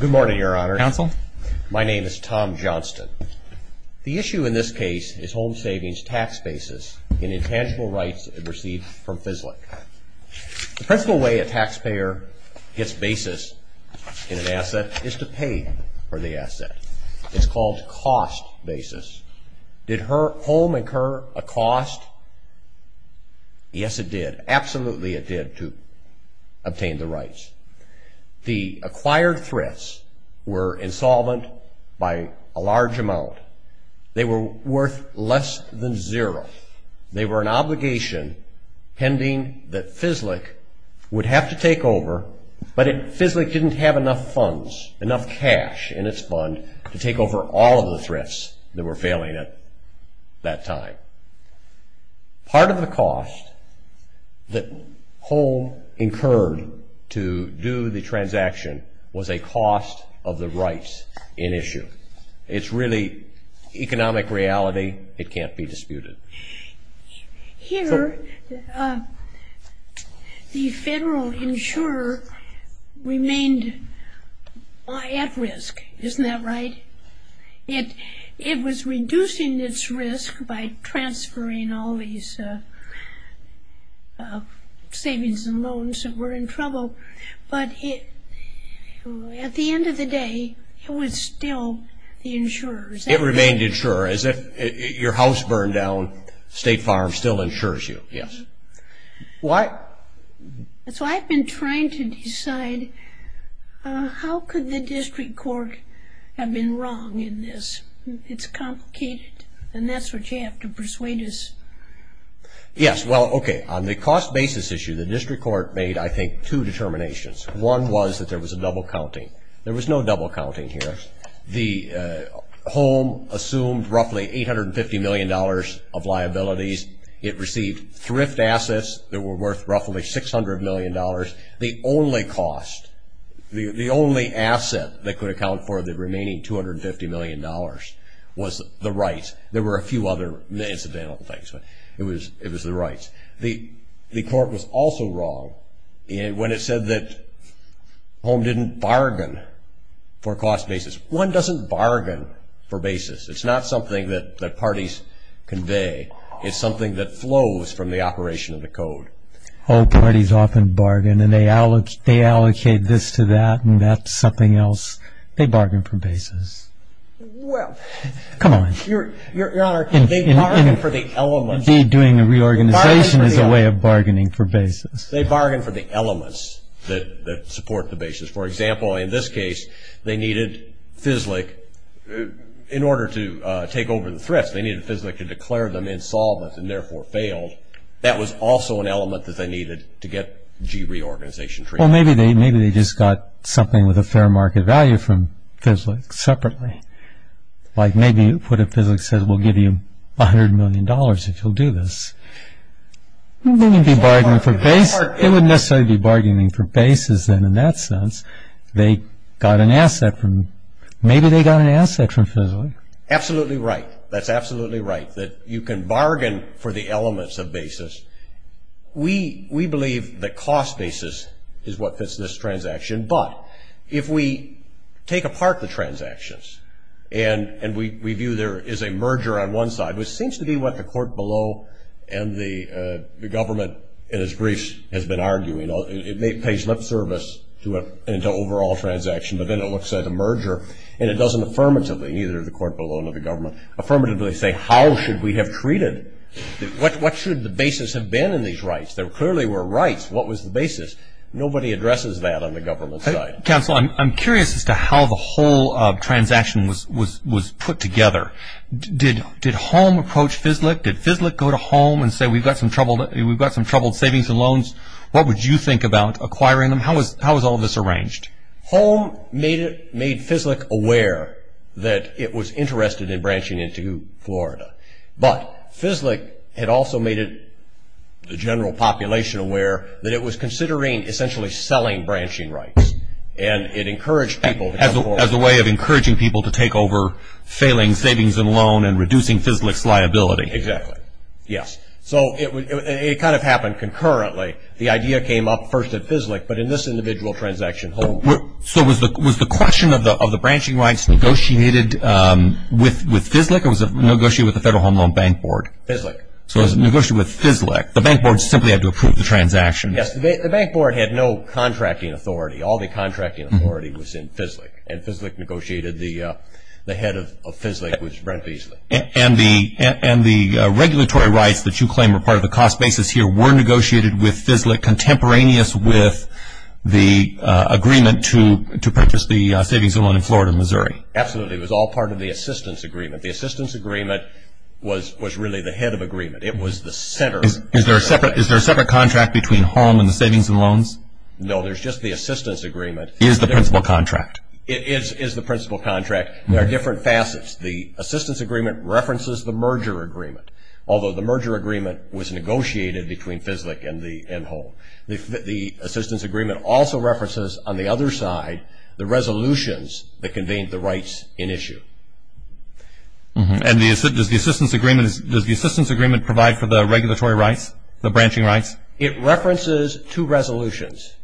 Good morning, Your Honor. Counsel? My name is Tom Johnston. The issue in this case is home savings tax basis and intangible rights received from FISLIC. The principal way a taxpayer gets basis in an asset is to pay for the asset. It's called cost basis. Did home incur a cost? Yes, it did. Absolutely it did to obtain the rights. The acquired thrifts were insolvent by a large amount. They were worth less than zero. They were an obligation pending that FISLIC would have to take over, but FISLIC didn't have enough funds, enough cash in its fund to take over all of the Part of the cost that home incurred to do the transaction was a cost of the rights in issue. It's really economic reality. It can't be disputed. Here, the federal insurer remained at risk. Isn't that right? It was reducing its risk by transferring all these savings and loans that were in trouble, but at the end of the day, it was still the insurer. It remained insurer. As if your house burned down, State Farm still insures you. That's why I've been trying to decide how could the district court have been wrong in this. It's complicated, and that's what you have to persuade us. Yes, well, okay. On the cost basis issue, the district court made, I think, two determinations. One was that there was a double counting. There was no double counting here. The home assumed roughly $850 million of liabilities. It received thrift assets that were worth roughly $600 million. The only cost, the only asset that could account for the remaining $250 million was the rights. There were a few other incidental things, but it was the rights. The court was also wrong when it said that home didn't bargain for cost basis. One doesn't bargain for basis. It's not something that parties convey. It's something that flows from the operation of the code. Old parties often bargain, and they allocate this to that, and that to something else. They bargain for basis. Well, your Honor, they bargain for the elements. Indeed, doing a reorganization is a way of bargaining for basis. They bargain for the elements that support the basis. For example, in this case, they needed FISLIC. In order to take over the thrift, they needed FISLIC to declare them insolvent and therefore failed. That was also an element that they needed to get G reorganization treatment. Well, maybe they just got something with a fair market value from FISLIC separately. Like maybe you put in FISLIC says, we'll give you $100 million if you'll do this. They wouldn't necessarily be bargaining for basis then in that sense. They got an asset from maybe they got an asset from FISLIC. Absolutely right. That's absolutely right that you can bargain for the elements of basis. We believe that cost basis is what fits this transaction. But if we take apart the transactions, and we view there is a merger on one side, which seems to be what the court below and the government in its briefs has been arguing. It pays lip service to an overall transaction, but then it looks at the merger, and it doesn't affirmatively, neither the court below nor the government, affirmatively say how should we have treated. What should the basis have been in these rights? There clearly were rights. What was the basis? Nobody addresses that on the government side. Counsel, I'm curious as to how the whole transaction was put together. Did home approach FISLIC? Did FISLIC go to home and say we've got some troubled savings and loans? What would you think about acquiring them? How was all of this arranged? Home made FISLIC aware that it was interested in branching into Florida. But FISLIC had also made the general population aware that it was considering essentially selling branching rights, and it encouraged people to come forward. As a way of encouraging people to take over failing savings and loan and reducing FISLIC's liability. Yes, so it kind of happened concurrently. The idea came up first at FISLIC, but in this individual transaction home. So was the question of the branching rights negotiated with FISLIC or was it negotiated with the Federal Home Loan Bank Board? FISLIC. So it was negotiated with FISLIC. The bank board simply had to approve the transaction. Yes, the bank board had no contracting authority. All the contracting authority was in FISLIC, and FISLIC negotiated the head of FISLIC was Brent Beasley. And the regulatory rights that you claim are part of the cost basis here were negotiated with FISLIC contemporaneous with the agreement to purchase the savings and loan in Florida, Missouri. Absolutely. It was all part of the assistance agreement. The assistance agreement was really the head of agreement. It was the center. Is there a separate contract between home and the savings and loans? No, there's just the assistance agreement. It is the principal contract. It is the principal contract. There are different facets. The assistance agreement references the merger agreement, although the merger agreement was negotiated between FISLIC and home. The assistance agreement also references, on the other side, the resolutions that contained the rights in issue. And does the assistance agreement provide for the regulatory rights, the branching rights? It references two resolutions,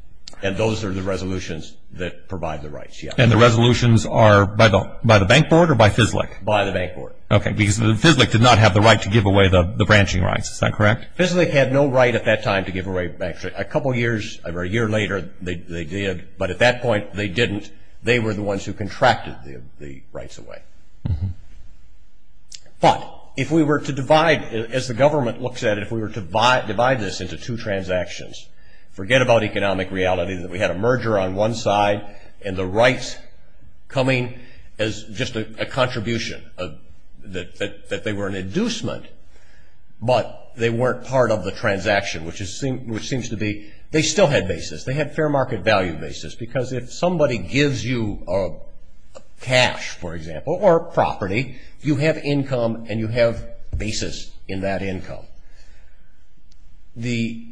and those are the resolutions that provide the rights, yes. And the resolutions are by the bank board or by FISLIC? By the bank board. Okay, because FISLIC did not have the right to give away the branching rights. Is that correct? FISLIC had no right at that time to give away bank rights. A couple years or a year later, they did. But at that point, they didn't. They were the ones who contracted the rights away. But if we were to divide, as the government looks at it, if we were to divide this into two transactions, forget about economic reality, that we had a merger on one side and the rights coming as just a contribution, that they were an inducement, but they weren't part of the transaction, which seems to be, they still had basis. They had fair market value basis, because if somebody gives you cash, for example, or property, you have income and you have basis in that income. The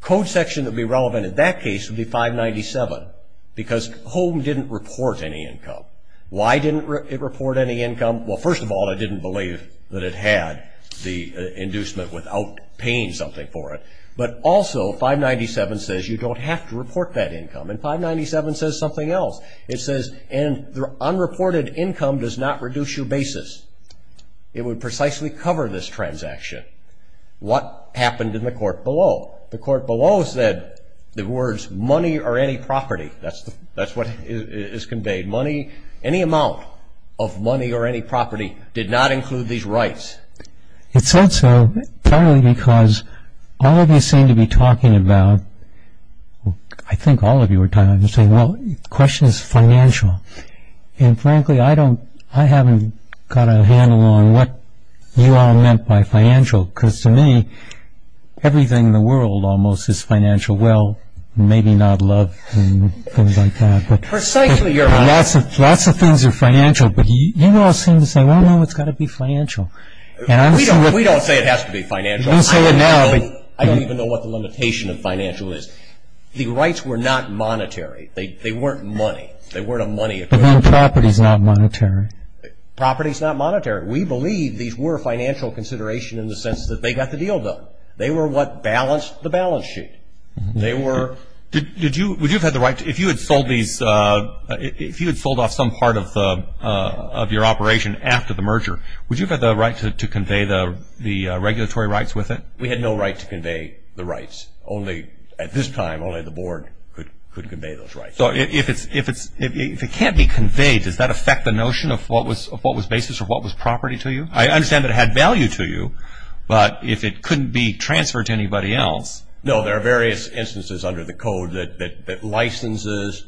code section that would be relevant in that case would be 597, because HOME didn't report any income. Why didn't it report any income? Well, first of all, it didn't believe that it had the inducement without paying something for it. But also, 597 says you don't have to report that income. And 597 says something else. It says, and the unreported income does not reduce your basis. It would precisely cover this transaction. What happened in the court below? The court below said the words money or any property. That's what is conveyed. Money, any amount of money or any property did not include these rights. It said so, probably because all of you seem to be talking about, I think all of you were talking, saying, well, the question is financial. And frankly, I haven't got a handle on what you all meant by financial, because to me, everything in the world almost is financial. Well, maybe not love and things like that. Precisely, your Honor. Lots of things are financial, but you all seem to say, well, no, it's got to be financial. We don't say it has to be financial. You say it now. I don't even know what the limitation of financial is. The rights were not monetary. They weren't money. They weren't a money equivalent. Property is not monetary. Property is not monetary. We believe these were financial considerations in the sense that they got the deal done. They were what balanced the balance sheet. They were. Would you have had the right, if you had sold off some part of your operation after the merger, would you have had the right to convey the regulatory rights with it? We had no right to convey the rights. Only at this time, only the Board could convey those rights. So if it can't be conveyed, does that affect the notion of what was basis or what was property to you? I understand that it had value to you, but if it couldn't be transferred to anybody else. No, there are various instances under the Code that licenses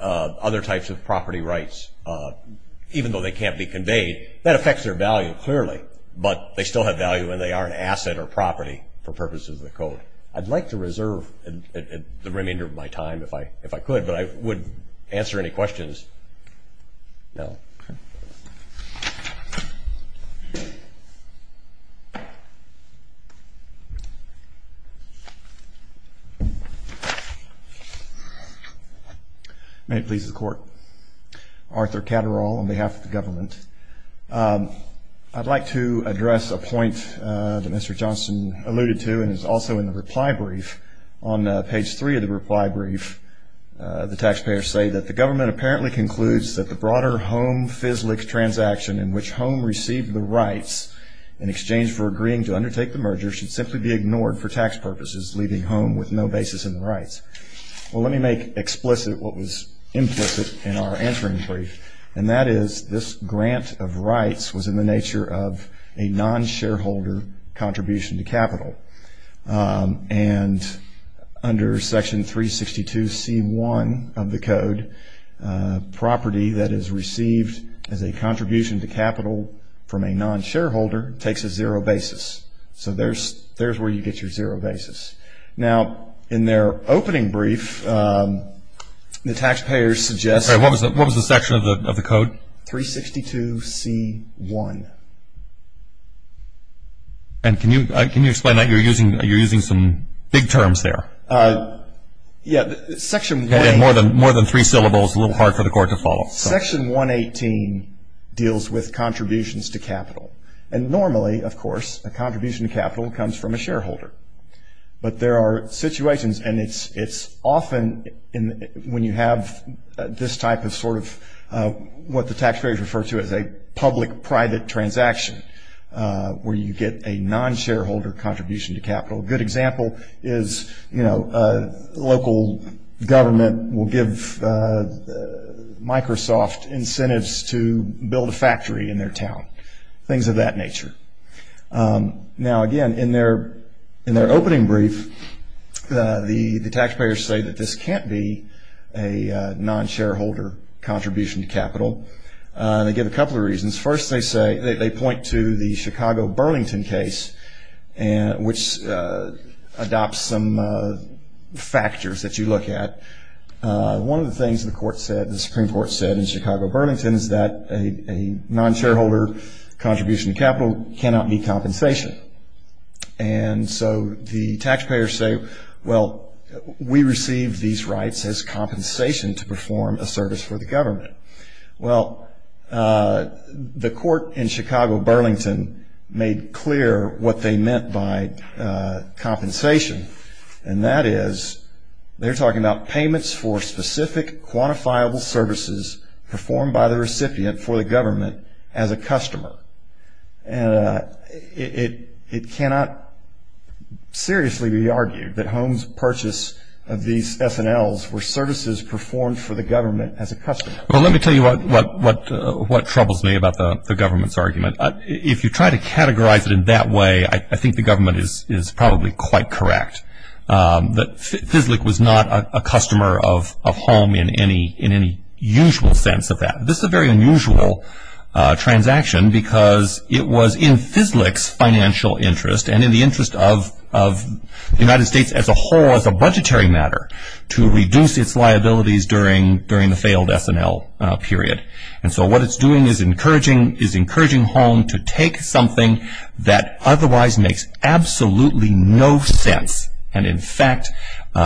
other types of property rights, even though they can't be conveyed. That affects their value clearly, but they still have value when they are an asset or property for purposes of the Code. I'd like to reserve the remainder of my time if I could, but I wouldn't answer any questions now. May it please the Court. Arthur Catterall on behalf of the government. I'd like to address a point that Mr. Johnson alluded to and is also in the reply brief. On page three of the reply brief, the taxpayers say that the government apparently concludes that the broader home FISLIC transaction in which home received the rights in exchange for agreeing to undertake the merger should simply be ignored for tax purposes, leaving home with no basis in the rights. Well, let me make explicit what was implicit in our entering brief, and that is this grant of rights was in the nature of a non-shareholder contribution to capital. And under Section 362C1 of the Code, property that is received as a contribution to capital from a non-shareholder takes a zero basis. So there's where you get your zero basis. Now, in their opening brief, the taxpayers suggest that 362C1. And can you explain that? You're using some big terms there. Yeah, Section 118. More than three syllables, a little hard for the Court to follow. Section 118 deals with contributions to capital. And normally, of course, a contribution to capital comes from a shareholder. But there are situations, and it's often when you have this type of sort of what the taxpayers refer to as a public-private transaction where you get a non-shareholder contribution to capital. A good example is, you know, local government will give Microsoft incentives to build a factory in their town, things of that nature. Now, again, in their opening brief, the taxpayers say that this can't be a non-shareholder contribution to capital. They give a couple of reasons. First, they point to the Chicago-Burlington case, which adopts some factors that you look at. One of the things the Supreme Court said in Chicago-Burlington is that a non-shareholder contribution to capital cannot be compensation. And so the taxpayers say, well, we receive these rights as compensation to perform a service for the government. Well, the Court in Chicago-Burlington made clear what they meant by compensation, and that is they're talking about payments for specific, quantifiable services performed by the recipient for the government as a customer. And it cannot seriously be argued that Holmes' purchase of these S&Ls were services performed for the government as a customer. Well, let me tell you what troubles me about the government's argument. If you try to categorize it in that way, I think the government is probably quite correct, that FISLIC was not a customer of Holmes in any usual sense of that. This is a very unusual transaction because it was in FISLIC's financial interest and in the interest of the United States as a whole as a budgetary matter to reduce its liabilities during the failed S&L period. And so what it's doing is encouraging Holmes to take something that otherwise makes absolutely no sense. And in fact,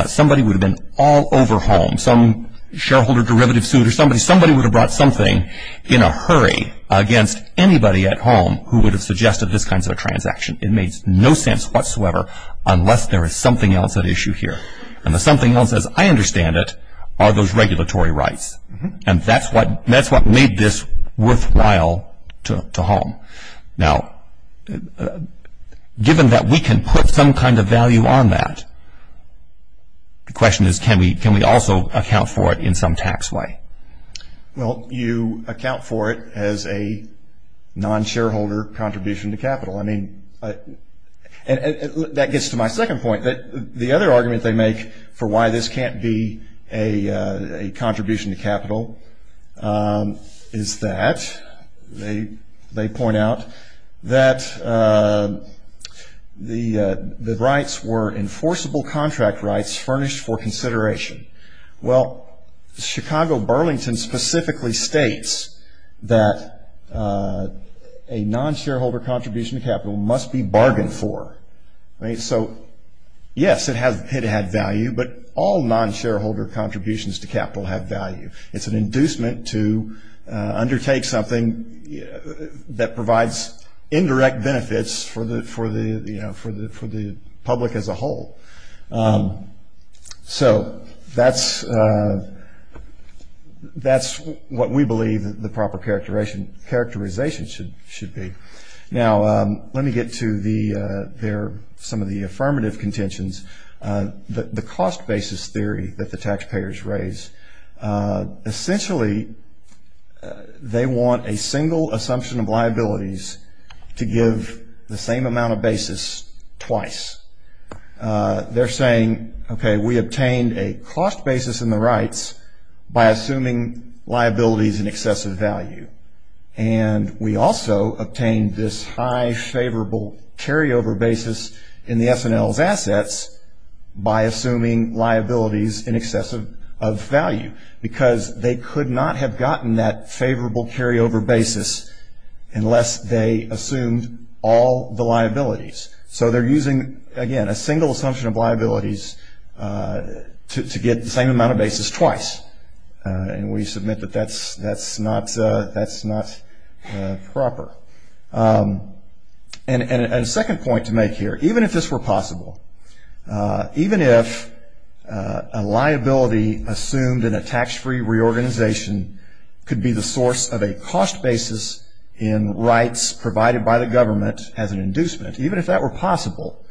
somebody would have been all over Holmes. Some shareholder derivative suit or somebody would have brought something in a hurry against anybody at home who would have suggested this kind of a transaction. It makes no sense whatsoever unless there is something else at issue here. And the something else, as I understand it, are those regulatory rights. And that's what made this worthwhile to Holmes. Now, given that we can put some kind of value on that, the question is can we also account for it in some tax way? Well, you account for it as a non-shareholder contribution to capital. I mean, that gets to my second point. The other argument they make for why this can't be a contribution to capital is that, they point out, that the rights were enforceable contract rights furnished for consideration. Well, Chicago Burlington specifically states that a non-shareholder contribution to capital must be bargained for. So, yes, it had value, but all non-shareholder contributions to capital have value. It's an inducement to undertake something that provides indirect benefits for the public as a whole. So that's what we believe the proper characterization should be. Now, let me get to some of the affirmative contentions. The cost basis theory that the taxpayers raise, essentially they want a single assumption of liabilities to give the same amount of basis twice. They're saying, okay, we obtained a cost basis in the rights by assuming liabilities in excess of value, and we also obtained this high favorable carryover basis in the S&L's assets by assuming liabilities in excess of value, because they could not have gotten that favorable carryover basis unless they assumed all the liabilities. So they're using, again, a single assumption of liabilities to get the same amount of basis twice, and we submit that that's not proper. And a second point to make here, even if this were possible, even if a liability assumed in a tax-free reorganization could be the source of a cost basis in rights provided by the government as an inducement, even if that were possible,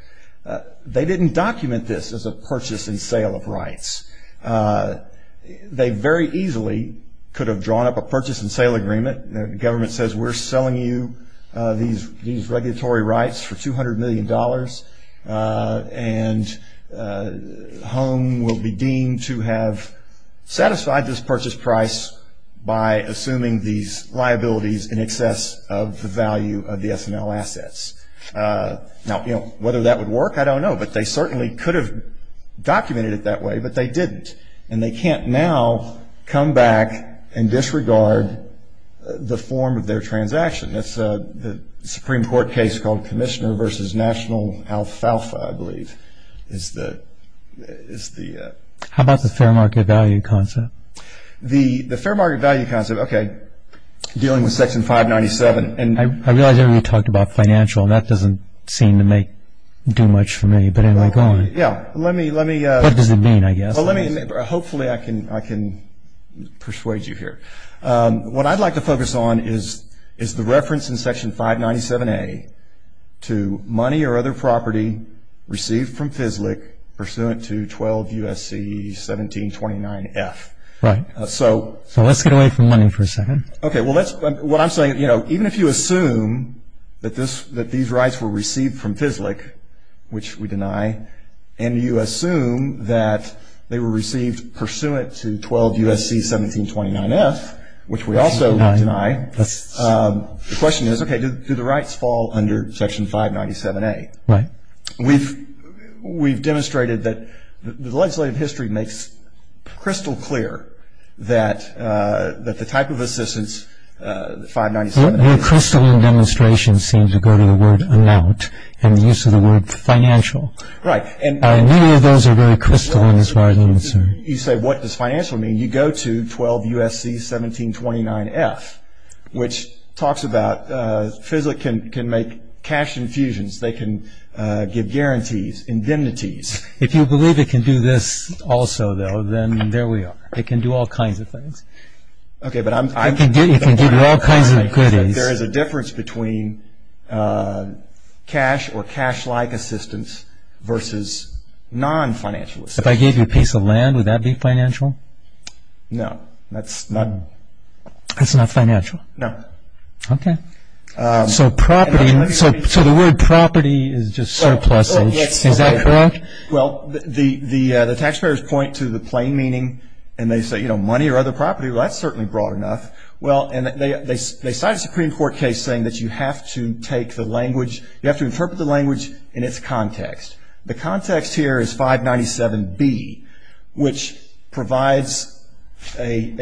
they didn't document this as a purchase and sale of rights. They very easily could have drawn up a purchase and sale agreement. The government says we're selling you these regulatory rights for $200 million, and HOME will be deemed to have satisfied this purchase price by assuming these liabilities in excess of the value of the S&L assets. Now, you know, whether that would work, I don't know, but they certainly could have documented it that way, but they didn't. And they can't now come back and disregard the form of their transaction. That's the Supreme Court case called Commissioner v. National Alfalfa, I believe, is the- How about the fair market value concept? The fair market value concept, okay, dealing with Section 597- I realize everybody talked about financial, and that doesn't seem to do much for me, but anyway, go on. Yeah, let me- What does it mean, I guess? Hopefully I can persuade you here. What I'd like to focus on is the reference in Section 597-A to money or other property received from FISLIC pursuant to 12 U.S.C. 1729-F. Right. So- So let's get away from money for a second. Okay, well, what I'm saying, you know, even if you assume that these rights were received from FISLIC, which we deny, and you assume that they were received pursuant to 12 U.S.C. 1729-F, which we also deny, the question is, okay, do the rights fall under Section 597-A? Right. We've demonstrated that the legislative history makes crystal clear that the type of assistance, 597-A- Right, and- Many of those are very crystal in this right- You say, what does financial mean? You go to 12 U.S.C. 1729-F, which talks about FISLIC can make cash infusions. They can give guarantees, indemnities. If you believe it can do this also, though, then there we are. It can do all kinds of things. Okay, but I'm- It can do all kinds of goodies. There is a difference between cash or cash-like assistance versus non-financial assistance. If I gave you a piece of land, would that be financial? No, that's not- That's not financial? No. Okay. So property, so the word property is just surpluses. Yes. Is that correct? Well, the taxpayers point to the plain meaning, and they say, you know, money or other property. Well, that's certainly broad enough. Well, and they cite a Supreme Court case saying that you have to take the language- you have to interpret the language in its context. The context here is 597B, which provides an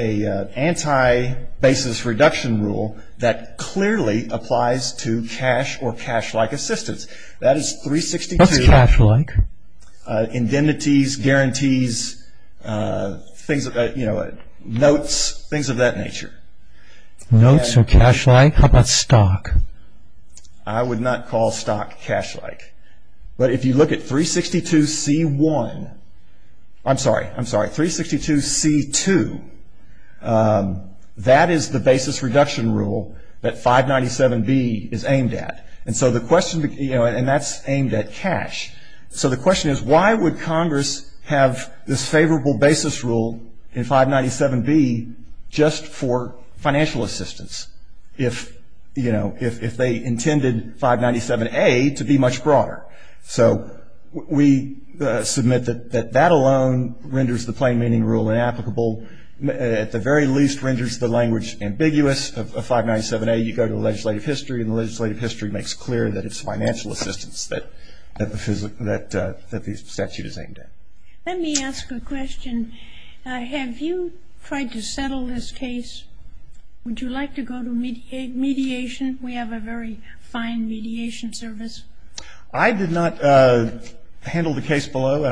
anti-basis reduction rule that clearly applies to cash or cash-like assistance. That is 362- What's cash-like? Indemnities, guarantees, things, you know, notes, things of that nature. Notes or cash-like? How about stock? I would not call stock cash-like. But if you look at 362C1-I'm sorry, I'm sorry, 362C2, that is the basis reduction rule that 597B is aimed at. And so the question, you know, and that's aimed at cash. So the question is, why would Congress have this favorable basis rule in 597B just for financial assistance, if, you know, if they intended 597A to be much broader? So we submit that that alone renders the plain meaning rule inapplicable, at the very least renders the language ambiguous of 597A. You go to legislative history, and the legislative history makes clear that it's financial assistance that the statute is aimed at. Let me ask a question. Have you tried to settle this case? Would you like to go to mediation? We have a very fine mediation service. I did not handle the case below.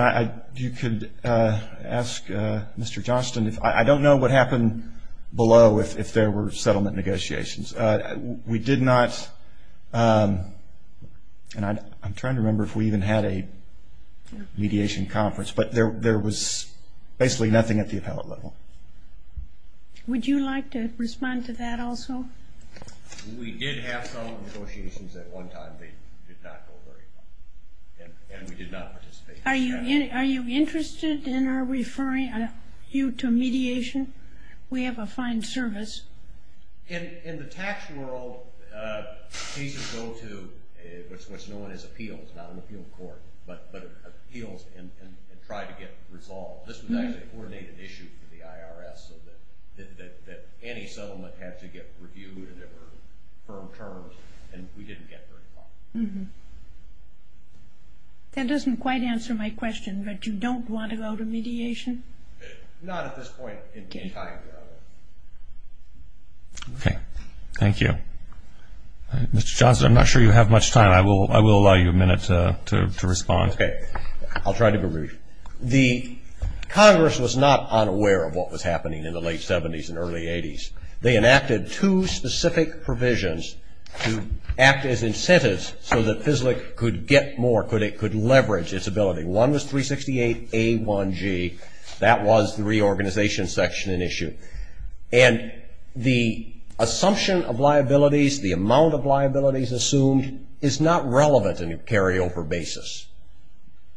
You could ask Mr. Johnston. I don't know what happened below if there were settlement negotiations. We did not, and I'm trying to remember if we even had a mediation conference, but there was basically nothing at the appellate level. Would you like to respond to that also? We did have some negotiations at one time. They did not go very well. And we did not participate. Are you interested in our referring you to mediation? We have a fine service. In the tax world, cases go to what's known as appeals, not an appeal court, but appeals and try to get resolved. This was actually a coordinated issue for the IRS so that any settlement had to get reviewed and there were firm terms, and we didn't get very far. That doesn't quite answer my question, but you don't want to go to mediation? Not at this point in time, no. Okay. Thank you. Mr. Johnston, I'm not sure you have much time. I will allow you a minute to respond. Okay. I'll try to be brief. The Congress was not unaware of what was happening in the late 70s and early 80s. They enacted two specific provisions to act as incentives so that FSLIC could get more, could leverage its ability. One was 368A1G. That was the reorganization section in issue. And the assumption of liabilities, the amount of liabilities assumed, is not relevant in a carryover basis.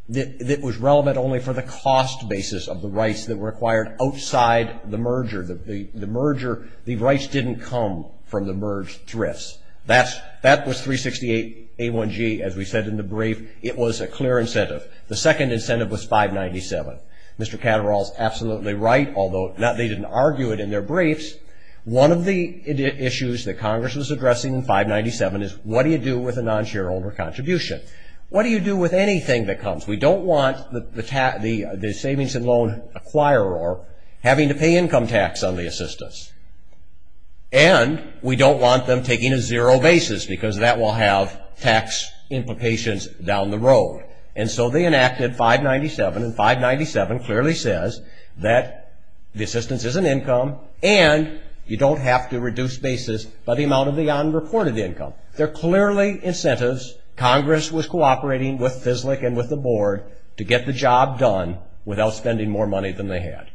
It was relevant only for the cost basis of the rights that were required outside the merger. The rights didn't come from the merged thrifts. That was 368A1G, as we said in the brief. It was a clear incentive. The second incentive was 597. Mr. Catterall is absolutely right, although they didn't argue it in their briefs. One of the issues that Congress was addressing in 597 is, what do you do with a non-shareholder contribution? What do you do with anything that comes? We don't want the savings and loan acquirer having to pay income tax on the assistance. And we don't want them taking a zero basis because that will have tax implications down the road. And so they enacted 597, and 597 clearly says that the assistance is an income and you don't have to reduce basis by the amount of the unreported income. They're clearly incentives. Congress was cooperating with FISLIC and with the board to get the job done without spending more money than they had.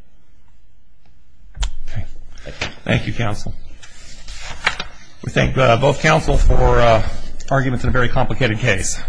Thank you, counsel. We thank both counsel for arguments in a very complicated case.